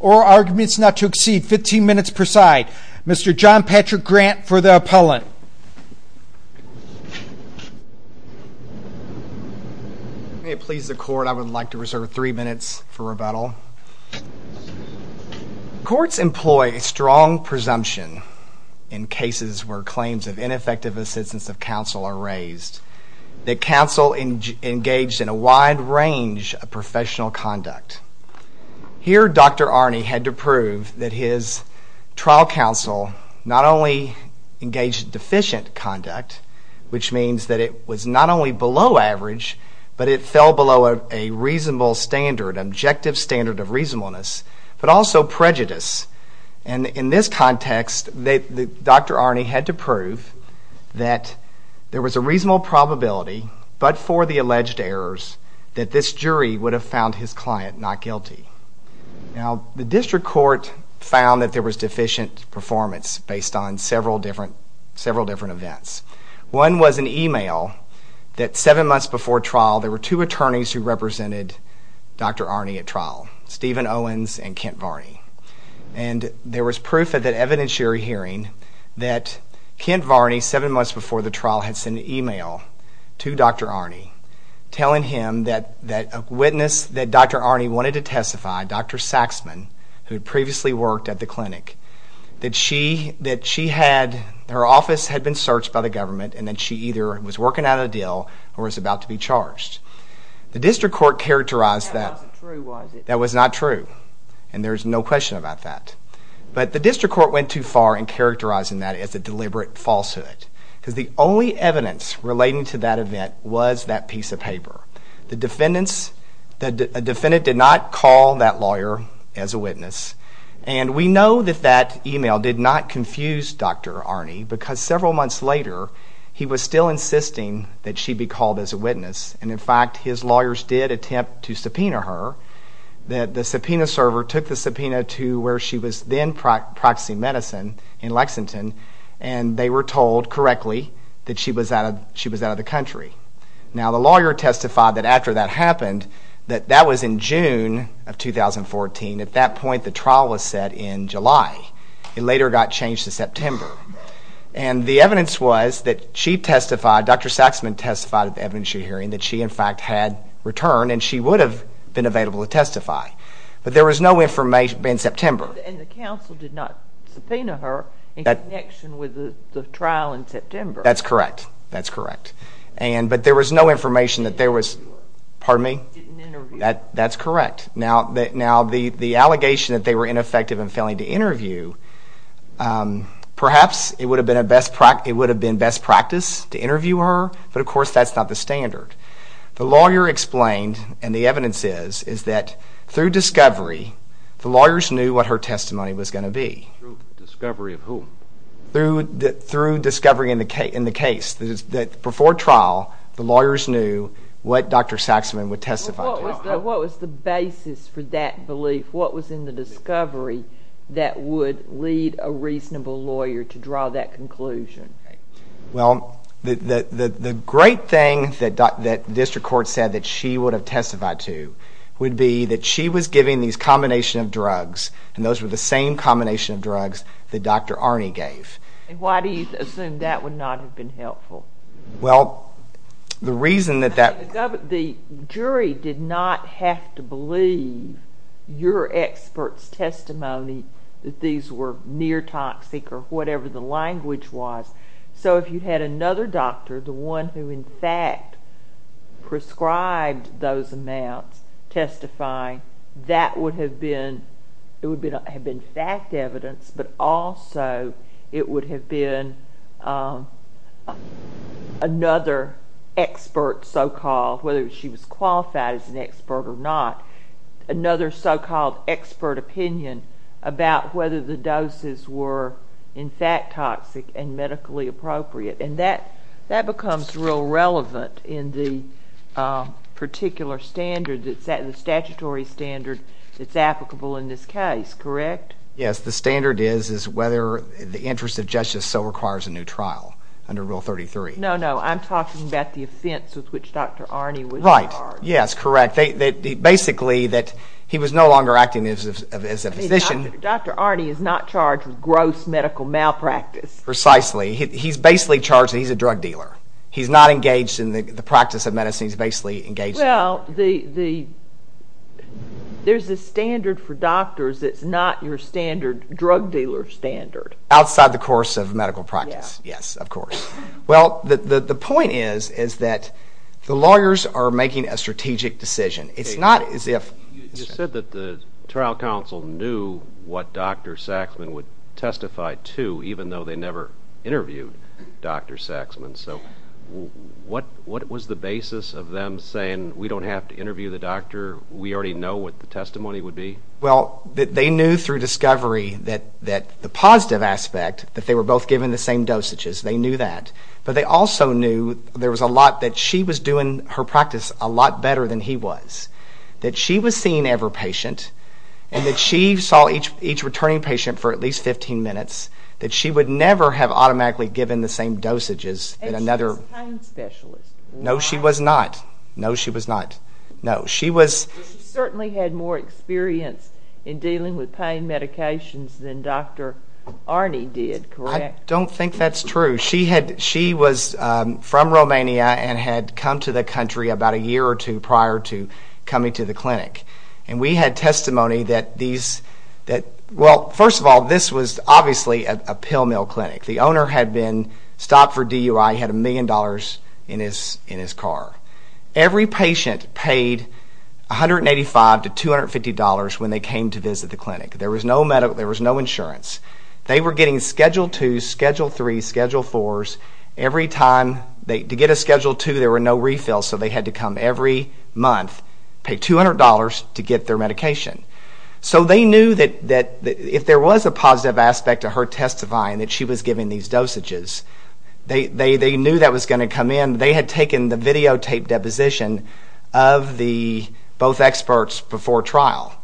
Oral arguments not to exceed 15 minutes per side. Mr. John Patrick Grant for the appellant. May it please the court, I would like to reserve three minutes for rebuttal. Courts employ a strong presumption. In cases where claims of ineffective assistance of counsel are raised. That counsel engaged in a wide range of professional conduct. Here Dr. Arny had to prove that his trial counsel not only engaged in deficient conduct. Which means that it was not only below average, but it fell below a reasonable standard, an objective standard of reasonableness. But also prejudice. And in this context Dr. Arny had to prove that there was a reasonable probability. But for the alleged errors that this jury would have found his client not guilty. Now the district court found that there was deficient performance based on several different events. One was an email that seven months before trial there were two attorneys who represented Dr. Arny at trial. Stephen Owens and Kent Varney. And there was proof at that evidentiary hearing. That Kent Varney seven months before the trial had sent an email to Dr. Arny. Telling him that a witness that Dr. Arny wanted to testify, Dr. Saxman, who had previously worked at the clinic. That she had, her office had been searched by the government and that she either was working out a deal or was about to be charged. The district court characterized that that was not true. And there's no question about that. But the district court went too far in characterizing that as a deliberate falsehood. Because the only evidence relating to that event was that piece of paper. The defendants, the defendant did not call that lawyer as a witness. And we know that that email did not confuse Dr. Arny because several months later he was still insisting that she be called as a witness. And in fact his lawyers did attempt to subpoena her. That the subpoena server took the subpoena to where she was then practicing medicine in Lexington. And they were told correctly that she was out of the country. Now the lawyer testified that after that happened, that that was in June of 2014. At that point the trial was set in July. It later got changed to September. And the evidence was that she testified, Dr. Saxman testified at the evidence sheet hearing that she in fact had returned. And she would have been available to testify. But there was no information in September. And the counsel did not subpoena her in connection with the trial in September. That's correct. That's correct. But there was no information that there was, pardon me, that's correct. Now the allegation that they were ineffective in failing to interview, perhaps it would have been best practice to interview her. But of course that's not the standard. The lawyer explained, and the evidence is, is that through discovery the lawyers knew what her testimony was going to be. Through discovery of whom? Through discovery in the case. That before trial the lawyers knew what Dr. Saxman would testify to. What was the basis for that belief? What was in the discovery that would lead a reasonable lawyer to draw that conclusion? Well, the great thing that district court said that she would have testified to would be that she was giving these combination of drugs. And those were the same combination of drugs that Dr. Arne gave. And why do you assume that would not have been helpful? Well, the reason that that... The jury did not have to believe your expert's testimony that these were near toxic or whatever the language was. So if you had another doctor, the one who in fact prescribed those amounts, testifying, that would have been, it would have been fact evidence, but also it would have been another expert so-called, whether she was qualified as an expert or not, another so-called expert opinion about whether the doses were in fact toxic and medically appropriate. And that becomes real relevant in the particular standard, the statutory standard that's applicable in this case, correct? Yes, the standard is whether the interest of justice so requires a new trial under Rule 33. No, no, I'm talking about the offense with which Dr. Arne was charged. Right, yes, correct. Basically that he was no longer acting as a physician. Dr. Arne is not charged with gross medical malpractice. Precisely. He's basically charged that he's a drug dealer. He's not engaged in the practice of medicine. He's basically engaged in... Well, there's a standard for doctors that's not your standard drug dealer standard. Outside the course of medical practice, yes, of course. Well, the point is that the lawyers are making a strategic decision. It's not as if... even though they never interviewed Dr. Saxman. So what was the basis of them saying, we don't have to interview the doctor, we already know what the testimony would be? Well, they knew through discovery that the positive aspect, that they were both given the same dosages, they knew that. But they also knew there was a lot that she was doing her practice a lot better than he was. That she was seen every patient and that she saw each returning patient for at least 15 minutes. That she would never have automatically given the same dosages in another... And she was a pain specialist. No, she was not. No, she was not. No, she was... She certainly had more experience in dealing with pain medications than Dr. Arne did, correct? I don't think that's true. She was from Romania and had come to the country about a year or two prior to coming to the clinic. And we had testimony that these... Well, first of all, this was obviously a pill mill clinic. The owner had been stopped for DUI, he had a million dollars in his car. Every patient paid $185 to $250 when they came to visit the clinic. There was no medical, there was no insurance. They were getting Schedule 2s, Schedule 3s, Schedule 4s every time... To get a Schedule 2, there were no refills, so they had to come every month, pay $200 to get their medication. So they knew that if there was a positive aspect to her testifying that she was giving these dosages, they knew that was going to come in. They had taken the videotaped deposition of both experts before trial.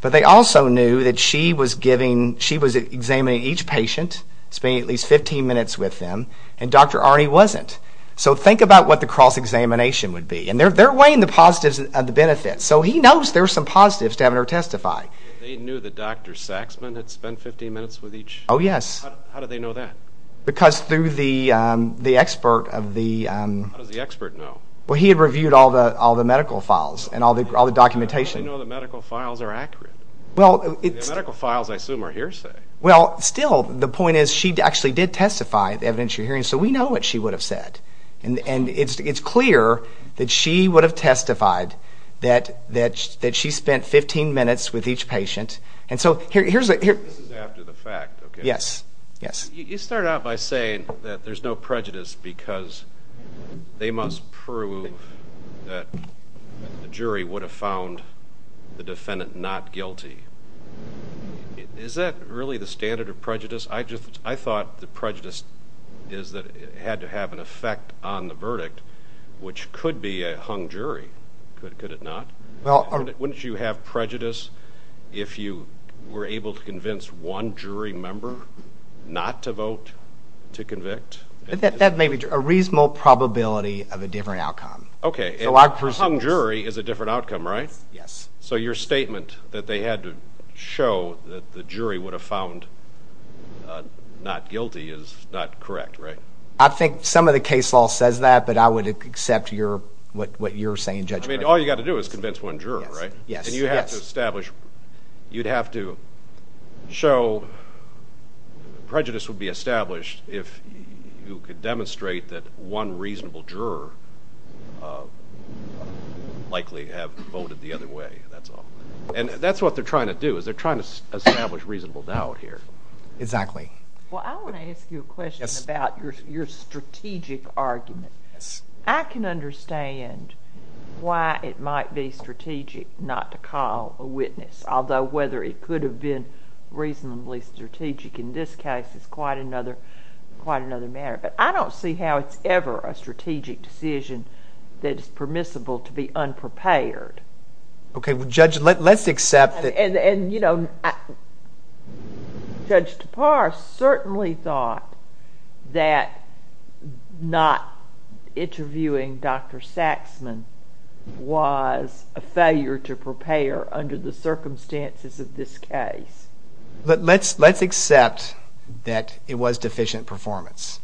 But they also knew that she was examining each patient, spending at least 15 minutes with them, and Dr. Arne wasn't. So think about what the cross-examination would be. And they're weighing the positives and the benefits, so he knows there are some positives to having her testify. They knew that Dr. Saxman had spent 15 minutes with each? Oh, yes. How did they know that? Because through the expert of the... How does the expert know? Well, he had reviewed all the medical files and all the documentation. How does he know the medical files are accurate? Well, it's... The medical files, I assume, are hearsay. Well, still, the point is she actually did testify, the evidence you're hearing, so we know what she would have said. And it's clear that she would have testified that she spent 15 minutes with each patient. And so here's a... This is after the fact, okay? Yes, yes. You started out by saying that there's no prejudice because they must prove that the jury would have found the defendant not guilty. Is that really the standard of prejudice? I thought the prejudice is that it had to have an effect on the verdict, which could be a hung jury, could it not? Wouldn't you have prejudice if you were able to convince one jury member not to vote to convict? That may be true. A reasonable probability of a different outcome. Okay, a hung jury is a different outcome, right? Yes. So your statement that they had to show that the jury would have found not guilty is not correct, right? I think some of the case law says that, but I would accept what you're saying, Judge. I mean, all you've got to do is convince one juror, right? Yes, yes. You'd have to show prejudice would be established if you could demonstrate that one reasonable juror likely have voted the other way, that's all. And that's what they're trying to do is they're trying to establish reasonable doubt here. Exactly. Well, I want to ask you a question about your strategic argument. Yes. I can understand why it might be strategic not to call a witness, although whether it could have been reasonably strategic in this case is quite another matter. But I don't see how it's ever a strategic decision that is permissible to be unprepared. Okay, well, Judge, let's accept that— And, you know, Judge Tapar certainly thought that not interviewing Dr. Saxman was a failure to prepare under the circumstances of this case. Let's accept that it was deficient performance.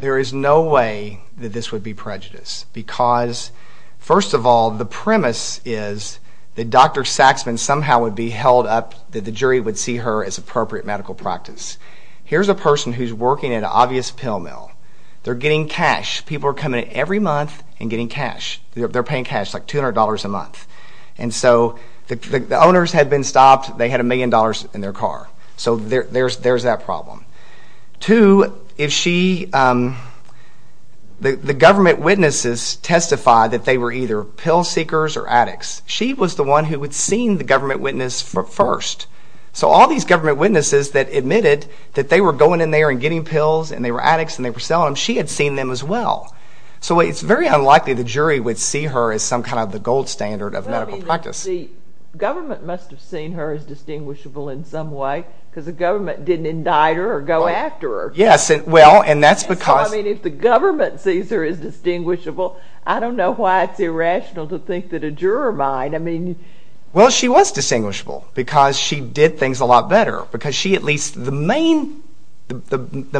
There is no way that this would be prejudice because, first of all, the premise is that Dr. Saxman somehow would be held up, that the jury would see her as appropriate medical practice. Here's a person who's working at an obvious pill mill. They're getting cash. People are coming in every month and getting cash. They're paying cash, like $200 a month. And so the owners had been stopped. They had a million dollars in their car. So there's that problem. Two, if she—the government witnesses testified that they were either pill seekers or addicts. She was the one who had seen the government witness first. So all these government witnesses that admitted that they were going in there and getting pills and they were addicts and they were selling them, she had seen them as well. So it's very unlikely the jury would see her as some kind of the gold standard of medical practice. The government must have seen her as distinguishable in some way because the government didn't indict her or go after her. Yes, well, and that's because— So, I mean, if the government sees her as distinguishable, I don't know why it's irrational to think that a juror might. Well, she was distinguishable because she did things a lot better because she at least—the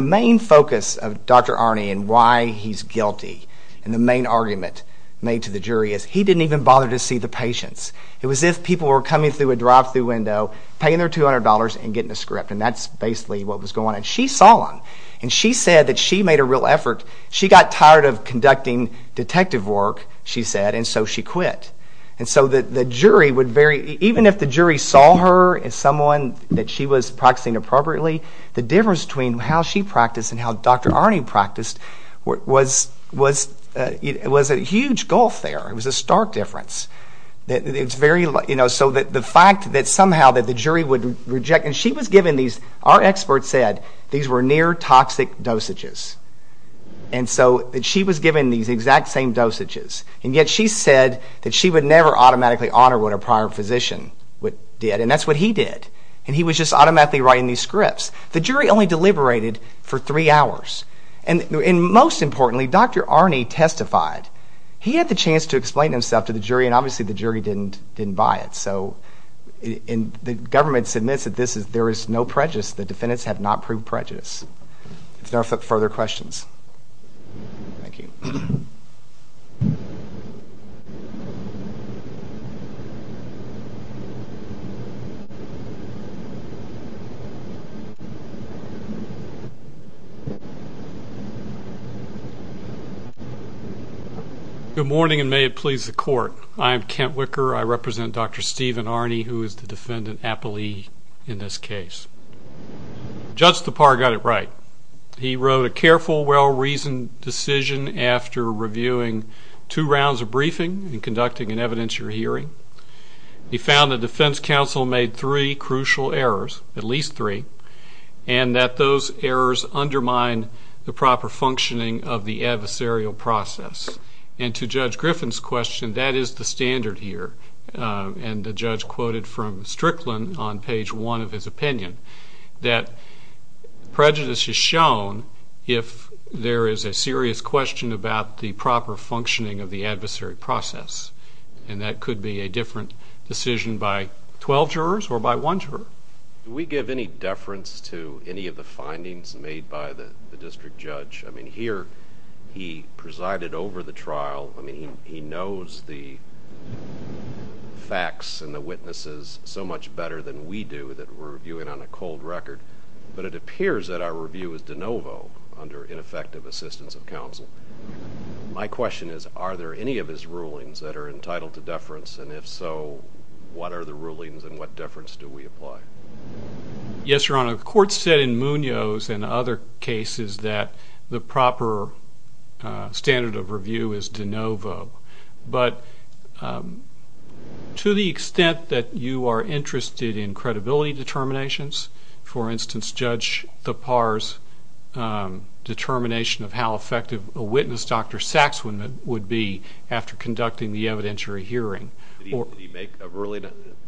main focus of Dr. Arne and why he's guilty and the main argument made to the jury is he didn't even bother to see the patients. It was as if people were coming through a drive-thru window, paying their $200 and getting a script, and that's basically what was going on. She saw them, and she said that she made a real effort. She got tired of conducting detective work, she said, and so she quit. And so the jury would very—even if the jury saw her as someone that she was practicing appropriately, the difference between how she practiced and how Dr. Arne practiced was a huge gulf there. It was a stark difference. It's very—so the fact that somehow the jury would reject—and she was given these— our expert said these were near-toxic dosages. And so she was given these exact same dosages, and yet she said that she would never automatically honor what a prior physician did, and that's what he did, and he was just automatically writing these scripts. The jury only deliberated for three hours. And most importantly, Dr. Arne testified. He had the chance to explain himself to the jury, and obviously the jury didn't buy it. So the government admits that there is no prejudice. The defendants have not proved prejudice. If there are no further questions. Thank you. Good morning, and may it please the Court. I am Kent Wicker. I represent Dr. Stephen Arne, who is the defendant, appellee in this case. Judge Tappar got it right. He wrote a careful, well-reasoned decision after reviewing two rounds of briefing and conducting an evidentiary hearing. He found the defense counsel made three crucial errors, at least three, and that those errors undermine the proper functioning of the adversarial process. And to Judge Griffin's question, that is the standard here, and the judge quoted from Strickland on page one of his opinion, that prejudice is shown if there is a serious question about the proper functioning of the adversary process, and that could be a different decision by 12 jurors or by one juror. Do we give any deference to any of the findings made by the district judge? I mean, here he presided over the trial. I mean, he knows the facts and the witnesses so much better than we do, that we're reviewing on a cold record, but it appears that our review is de novo under ineffective assistance of counsel. My question is, are there any of his rulings that are entitled to deference, and if so, what are the rulings and what deference do we apply? Yes, Your Honor, the court said in Munoz and other cases that the proper standard of review is de novo. But to the extent that you are interested in credibility determinations, for instance, Judge Thapar's determination of how effective a witness, Dr. Saxman, would be after conducting the evidentiary hearing. Did he make a ruling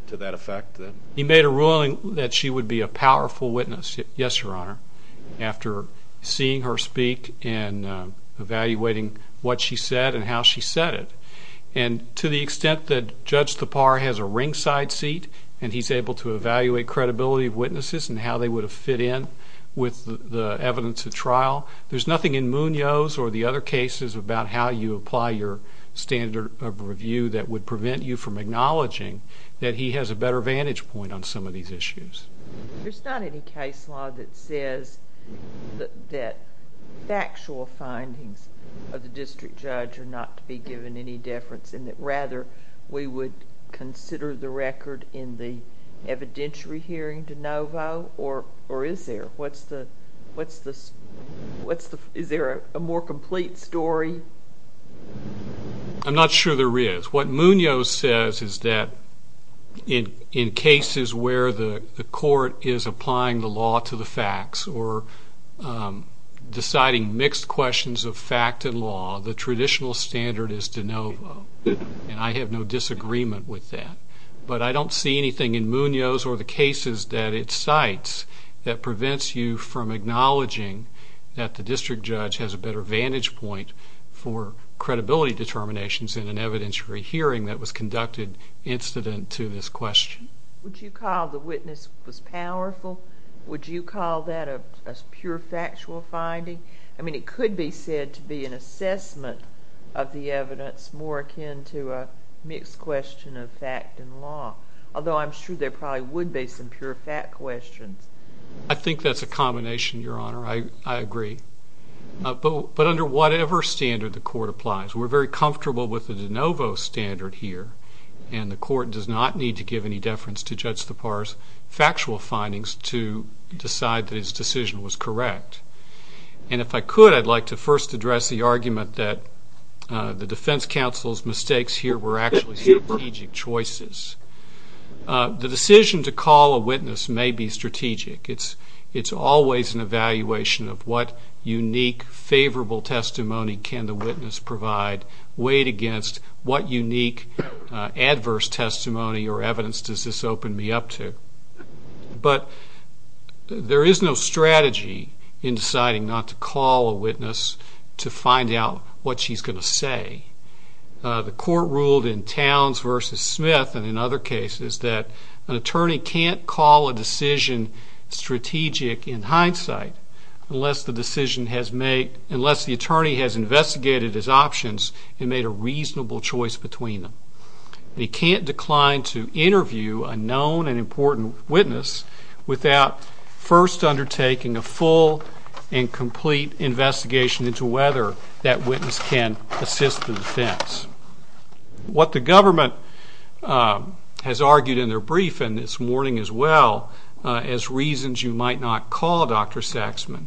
to that effect? He made a ruling that she would be a powerful witness, yes, Your Honor, after seeing her speak and evaluating what she said and how she said it. And to the extent that Judge Thapar has a ringside seat and he's able to evaluate credibility of witnesses and how they would have fit in with the evidence of trial, there's nothing in Munoz or the other cases about how you apply your standard of review that would prevent you from acknowledging that he has a better vantage point on some of these issues. There's not any case law that says that factual findings of the district judge are not to be given any deference and that rather we would consider the record in the evidentiary hearing de novo, or is there? Is there a more complete story? I'm not sure there is. What Munoz says is that in cases where the court is applying the law to the facts or deciding mixed questions of fact and law, the traditional standard is de novo, and I have no disagreement with that. But I don't see anything in Munoz or the cases that it cites that prevents you from acknowledging that the district judge has a better vantage point for credibility determinations in an evidentiary hearing that was conducted incident to this question. Would you call the witness was powerful? Would you call that a pure factual finding? I mean, it could be said to be an assessment of the evidence more akin to a mixed question of fact and law, although I'm sure there probably would be some pure fact questions. I think that's a combination, Your Honor. I agree. But under whatever standard the court applies, we're very comfortable with the de novo standard here, and the court does not need to give any deference to Judge Thapar's factual findings to decide that his decision was correct. And if I could, I'd like to first address the argument that the defense counsel's mistakes here were actually strategic choices. The decision to call a witness may be strategic. It's always an evaluation of what unique favorable testimony can the witness provide, weighed against what unique adverse testimony or evidence does this open me up to. But there is no strategy in deciding not to call a witness to find out what she's going to say. The court ruled in Towns v. Smith and in other cases that an attorney can't call a decision strategic in hindsight unless the attorney has investigated his options and made a reasonable choice between them. He can't decline to interview a known and important witness without first undertaking a full and complete investigation into whether that witness can assist the defense. What the government has argued in their briefing this morning as well as reasons you might not call Dr. Saxman,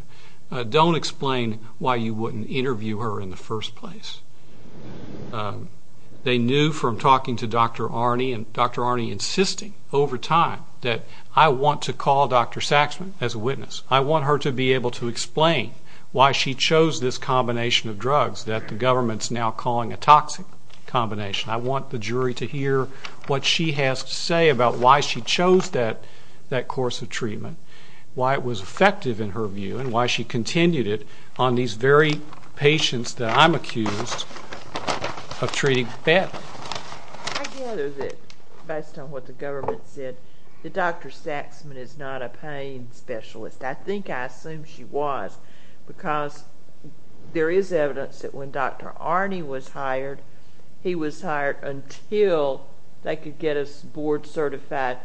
don't explain why you wouldn't interview her in the first place. They knew from talking to Dr. Arne and Dr. Arne insisting over time that I want to call Dr. Saxman as a witness. I want her to be able to explain why she chose this combination of drugs that the government's now calling a toxic combination. I want the jury to hear what she has to say about why she chose that course of treatment, why it was effective in her view and why she continued it on these very patients that I'm accused of treating badly. I gather that based on what the government said that Dr. Saxman is not a pain specialist. I think I assume she was because there is evidence that when Dr. Arne was hired, he was hired until they could get a board-certified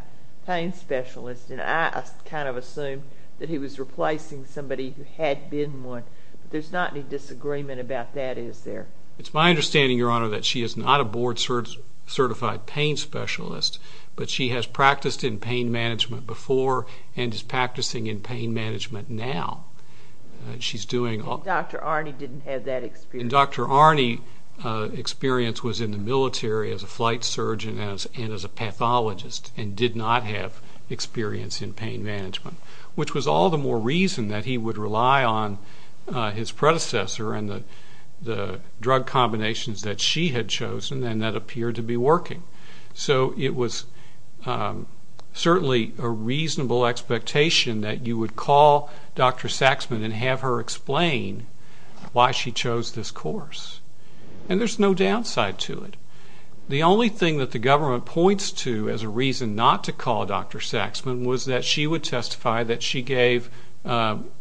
pain specialist, and I kind of assumed that he was replacing somebody who had been one. There's not any disagreement about that, is there? It's my understanding, Your Honor, that she is not a board-certified pain specialist, but she has practiced in pain management before and is practicing in pain management now. Dr. Arne didn't have that experience. And Dr. Arne's experience was in the military as a flight surgeon and as a pathologist and did not have experience in pain management, which was all the more reason that he would rely on his predecessor and the drug combinations that she had chosen and that appeared to be working. So it was certainly a reasonable expectation that you would call Dr. Saxman and have her explain why she chose this course. And there's no downside to it. The only thing that the government points to as a reason not to call Dr. Saxman was that she would testify that she gave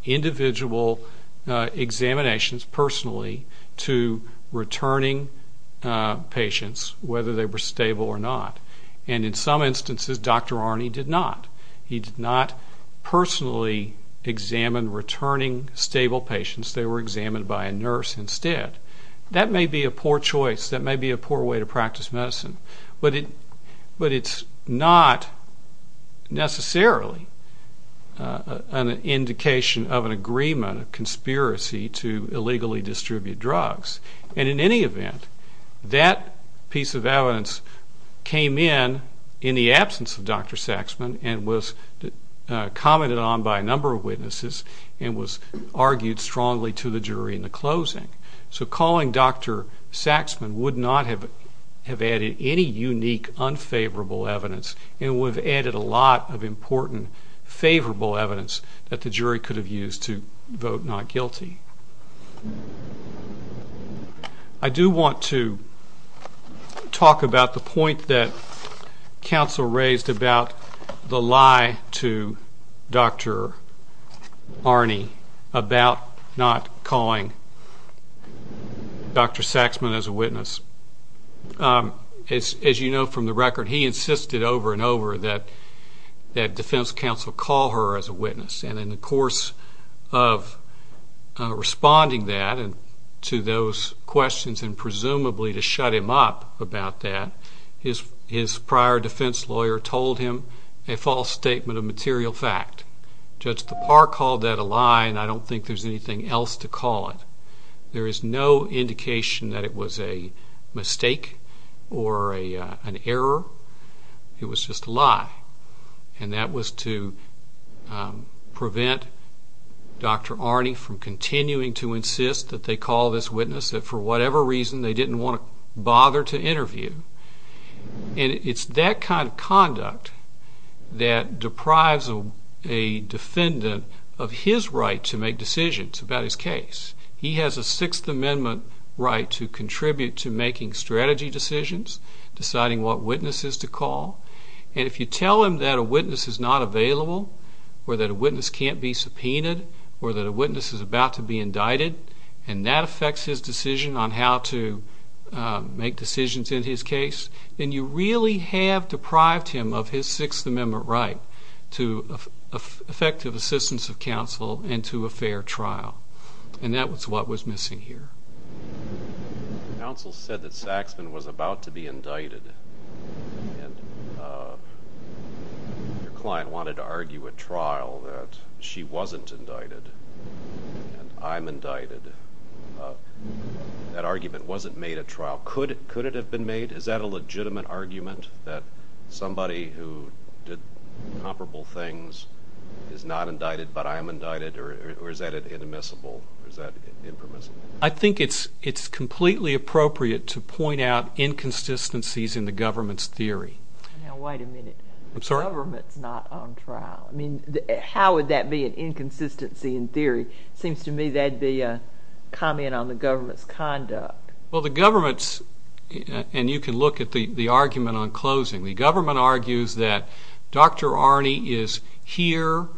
individual examinations personally to returning patients, whether they were stable or not. And in some instances, Dr. Arne did not. He did not personally examine returning stable patients. They were examined by a nurse instead. That may be a poor choice. That may be a poor way to practice medicine. But it's not necessarily an indication of an agreement, a conspiracy to illegally distribute drugs. And in any event, that piece of evidence came in in the absence of Dr. Saxman and was commented on by a number of witnesses and was argued strongly to the jury in the closing. So calling Dr. Saxman would not have added any unique unfavorable evidence and would have added a lot of important favorable evidence that the jury could have used to vote not guilty. I do want to talk about the point that counsel raised about the lie to Dr. Arne about not calling Dr. Saxman as a witness. As you know from the record, he insisted over and over that defense counsel call her as a witness. And in the course of responding that to those questions and presumably to shut him up about that, his prior defense lawyer told him a false statement of material fact. Judge Tappar called that a lie, and I don't think there's anything else to call it. There is no indication that it was a mistake or an error. It was just a lie. And that was to prevent Dr. Arne from continuing to insist that they call this witness that for whatever reason they didn't want to bother to interview. And it's that kind of conduct that deprives a defendant of his right to make decisions about his case. He has a Sixth Amendment right to contribute to making strategy decisions, deciding what witnesses to call. And if you tell him that a witness is not available or that a witness can't be subpoenaed or that a witness is about to be indicted and that affects his decision on how to make decisions in his case, then you really have deprived him of his Sixth Amendment right to effective assistance of counsel and to a fair trial. And that was what was missing here. The counsel said that Saxman was about to be indicted, and your client wanted to argue a trial that she wasn't indicted and I'm indicted. That argument wasn't made at trial. Could it have been made? Is that a legitimate argument that somebody who did comparable things is not indicted but I'm indicted, or is that inadmissible, or is that impermissible? I think it's completely appropriate to point out inconsistencies in the government's theory. Now, wait a minute. I'm sorry? The government's not on trial. I mean, how would that be an inconsistency in theory? It seems to me that'd be a comment on the government's conduct. Well, the government's, and you can look at the argument on closing, the government argues that Dr. Arne is here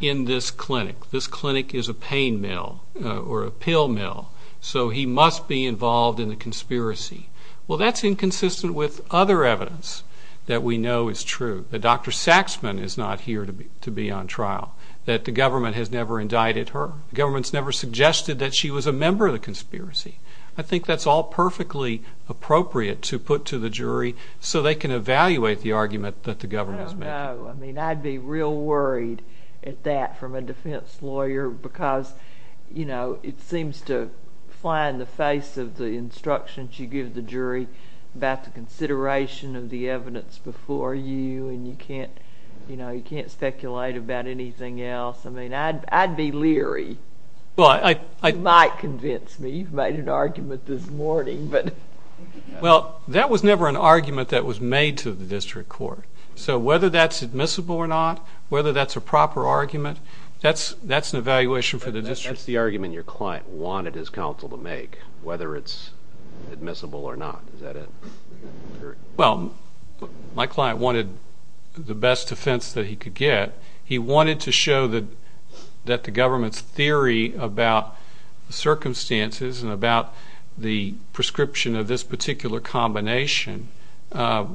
in this clinic. This clinic is a pain mill or a pill mill, so he must be involved in the conspiracy. Well, that's inconsistent with other evidence that we know is true, that Dr. Saxman is not here to be on trial, that the government has never indicted her. The government's never suggested that she was a member of the conspiracy. I think that's all perfectly appropriate to put to the jury so they can evaluate the argument that the government has made. I don't know. I mean, I'd be real worried at that from a defense lawyer because it seems to fly in the face of the instructions you give the jury about the consideration of the evidence before you, and you can't speculate about anything else. I mean, I'd be leery. You might convince me. You've made an argument this morning. Well, that was never an argument that was made to the district court. So whether that's admissible or not, whether that's a proper argument, that's an evaluation for the district. That's the argument your client wanted his counsel to make, whether it's admissible or not. Is that it? Well, my client wanted the best defense that he could get. He wanted to show that the government's theory about the circumstances and about the prescription of this particular combination, that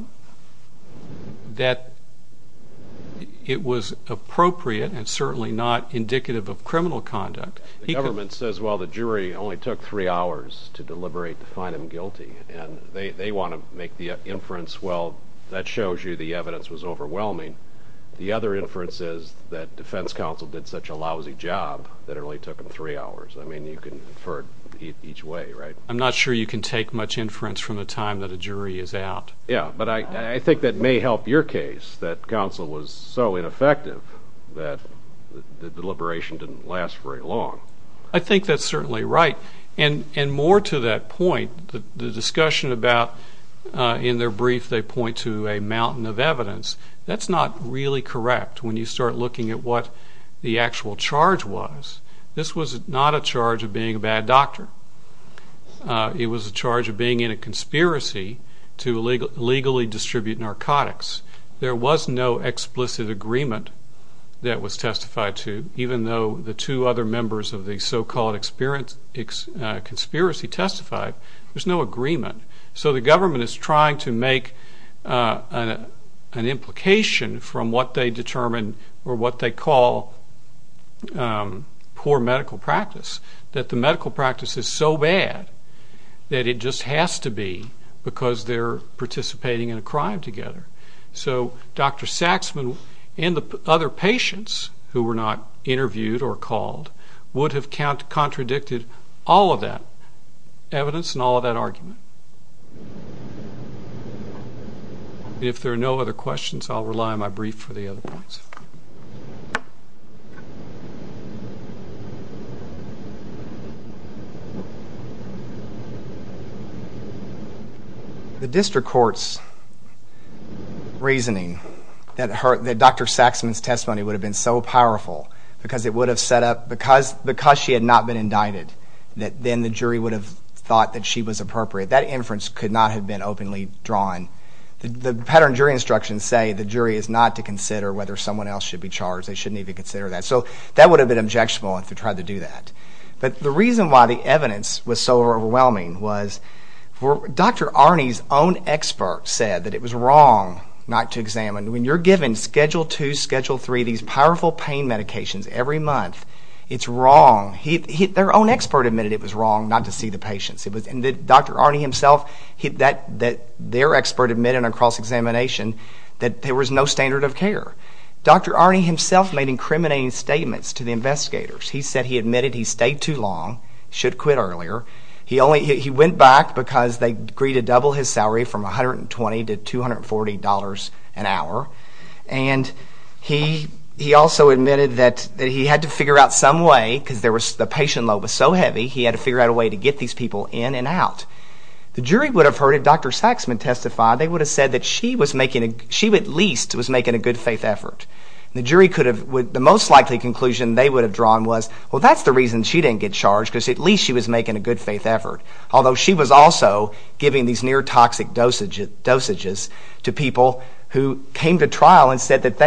it was appropriate and certainly not indicative of criminal conduct. The government says, well, the jury only took three hours to deliberate to find him guilty, and they want to make the inference, well, that shows you the evidence was overwhelming. The other inference is that defense counsel did such a lousy job that it only took him three hours. I mean, you can infer it each way, right? I'm not sure you can take much inference from the time that a jury is out. Yeah, but I think that may help your case, that counsel was so ineffective that the deliberation didn't last very long. I think that's certainly right. And more to that point, the discussion about in their brief they point to a mountain of evidence, that's not really correct when you start looking at what the actual charge was. This was not a charge of being a bad doctor. It was a charge of being in a conspiracy to illegally distribute narcotics. There was no explicit agreement that was testified to, even though the two other members of the so-called conspiracy testified. There's no agreement. So the government is trying to make an implication from what they determine or what they call poor medical practice, that the medical practice is so bad that it just has to be because they're participating in a crime together. So Dr. Saxman and the other patients who were not interviewed or called would have contradicted all of that evidence and all of that argument. If there are no other questions, I'll rely on my brief for the other points. The district court's reasoning that Dr. Saxman's testimony would have been so powerful because it would have set up, because she had not been indicted, that then the jury would have thought that she was appropriate, that inference could not have been openly drawn. The pattern jury instructions say the jury is not to consider whether someone else should be charged, they shouldn't even consider that. So that would have been objectionable if they tried to do that. But the reason why the evidence was so overwhelming was Dr. Arney's own expert said that it was wrong not to examine. When you're given Schedule II, Schedule III, these powerful pain medications every month, it's wrong. Their own expert admitted it was wrong not to see the patients. Dr. Arney himself, their expert admitted in a cross-examination that there was no standard of care. Dr. Arney himself made incriminating statements to the investigators. He said he admitted he stayed too long, should quit earlier. He went back because they agreed to double his salary from $120 to $240 an hour. And he also admitted that he had to figure out some way, because the patient load was so heavy, he had to figure out a way to get these people in and out. The jury would have heard if Dr. Saxman testified, they would have said that she at least was making a good faith effort. The jury could have, the most likely conclusion they would have drawn was, well, that's the reason she didn't get charged, because at least she was making a good faith effort. Although she was also giving these near-toxic dosages to people who came to trial and said that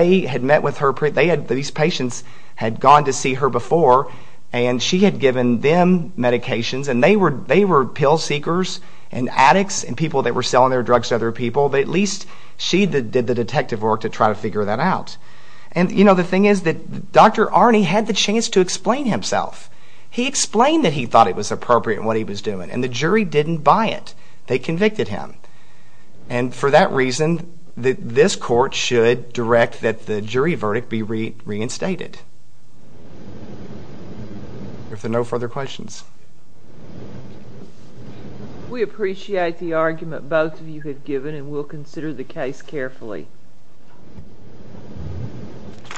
these patients had gone to see her before, and she had given them medications, and they were pill seekers and addicts and people that were selling their drugs to other people, but at least she did the detective work to try to figure that out. And the thing is that Dr. Arney had the chance to explain himself. He explained that he thought it was appropriate in what he was doing, and the jury didn't buy it. They convicted him. And for that reason, this court should direct that the jury verdict be reinstated. If there are no further questions. We appreciate the argument both of you have given, and we'll consider the case carefully. Thank you.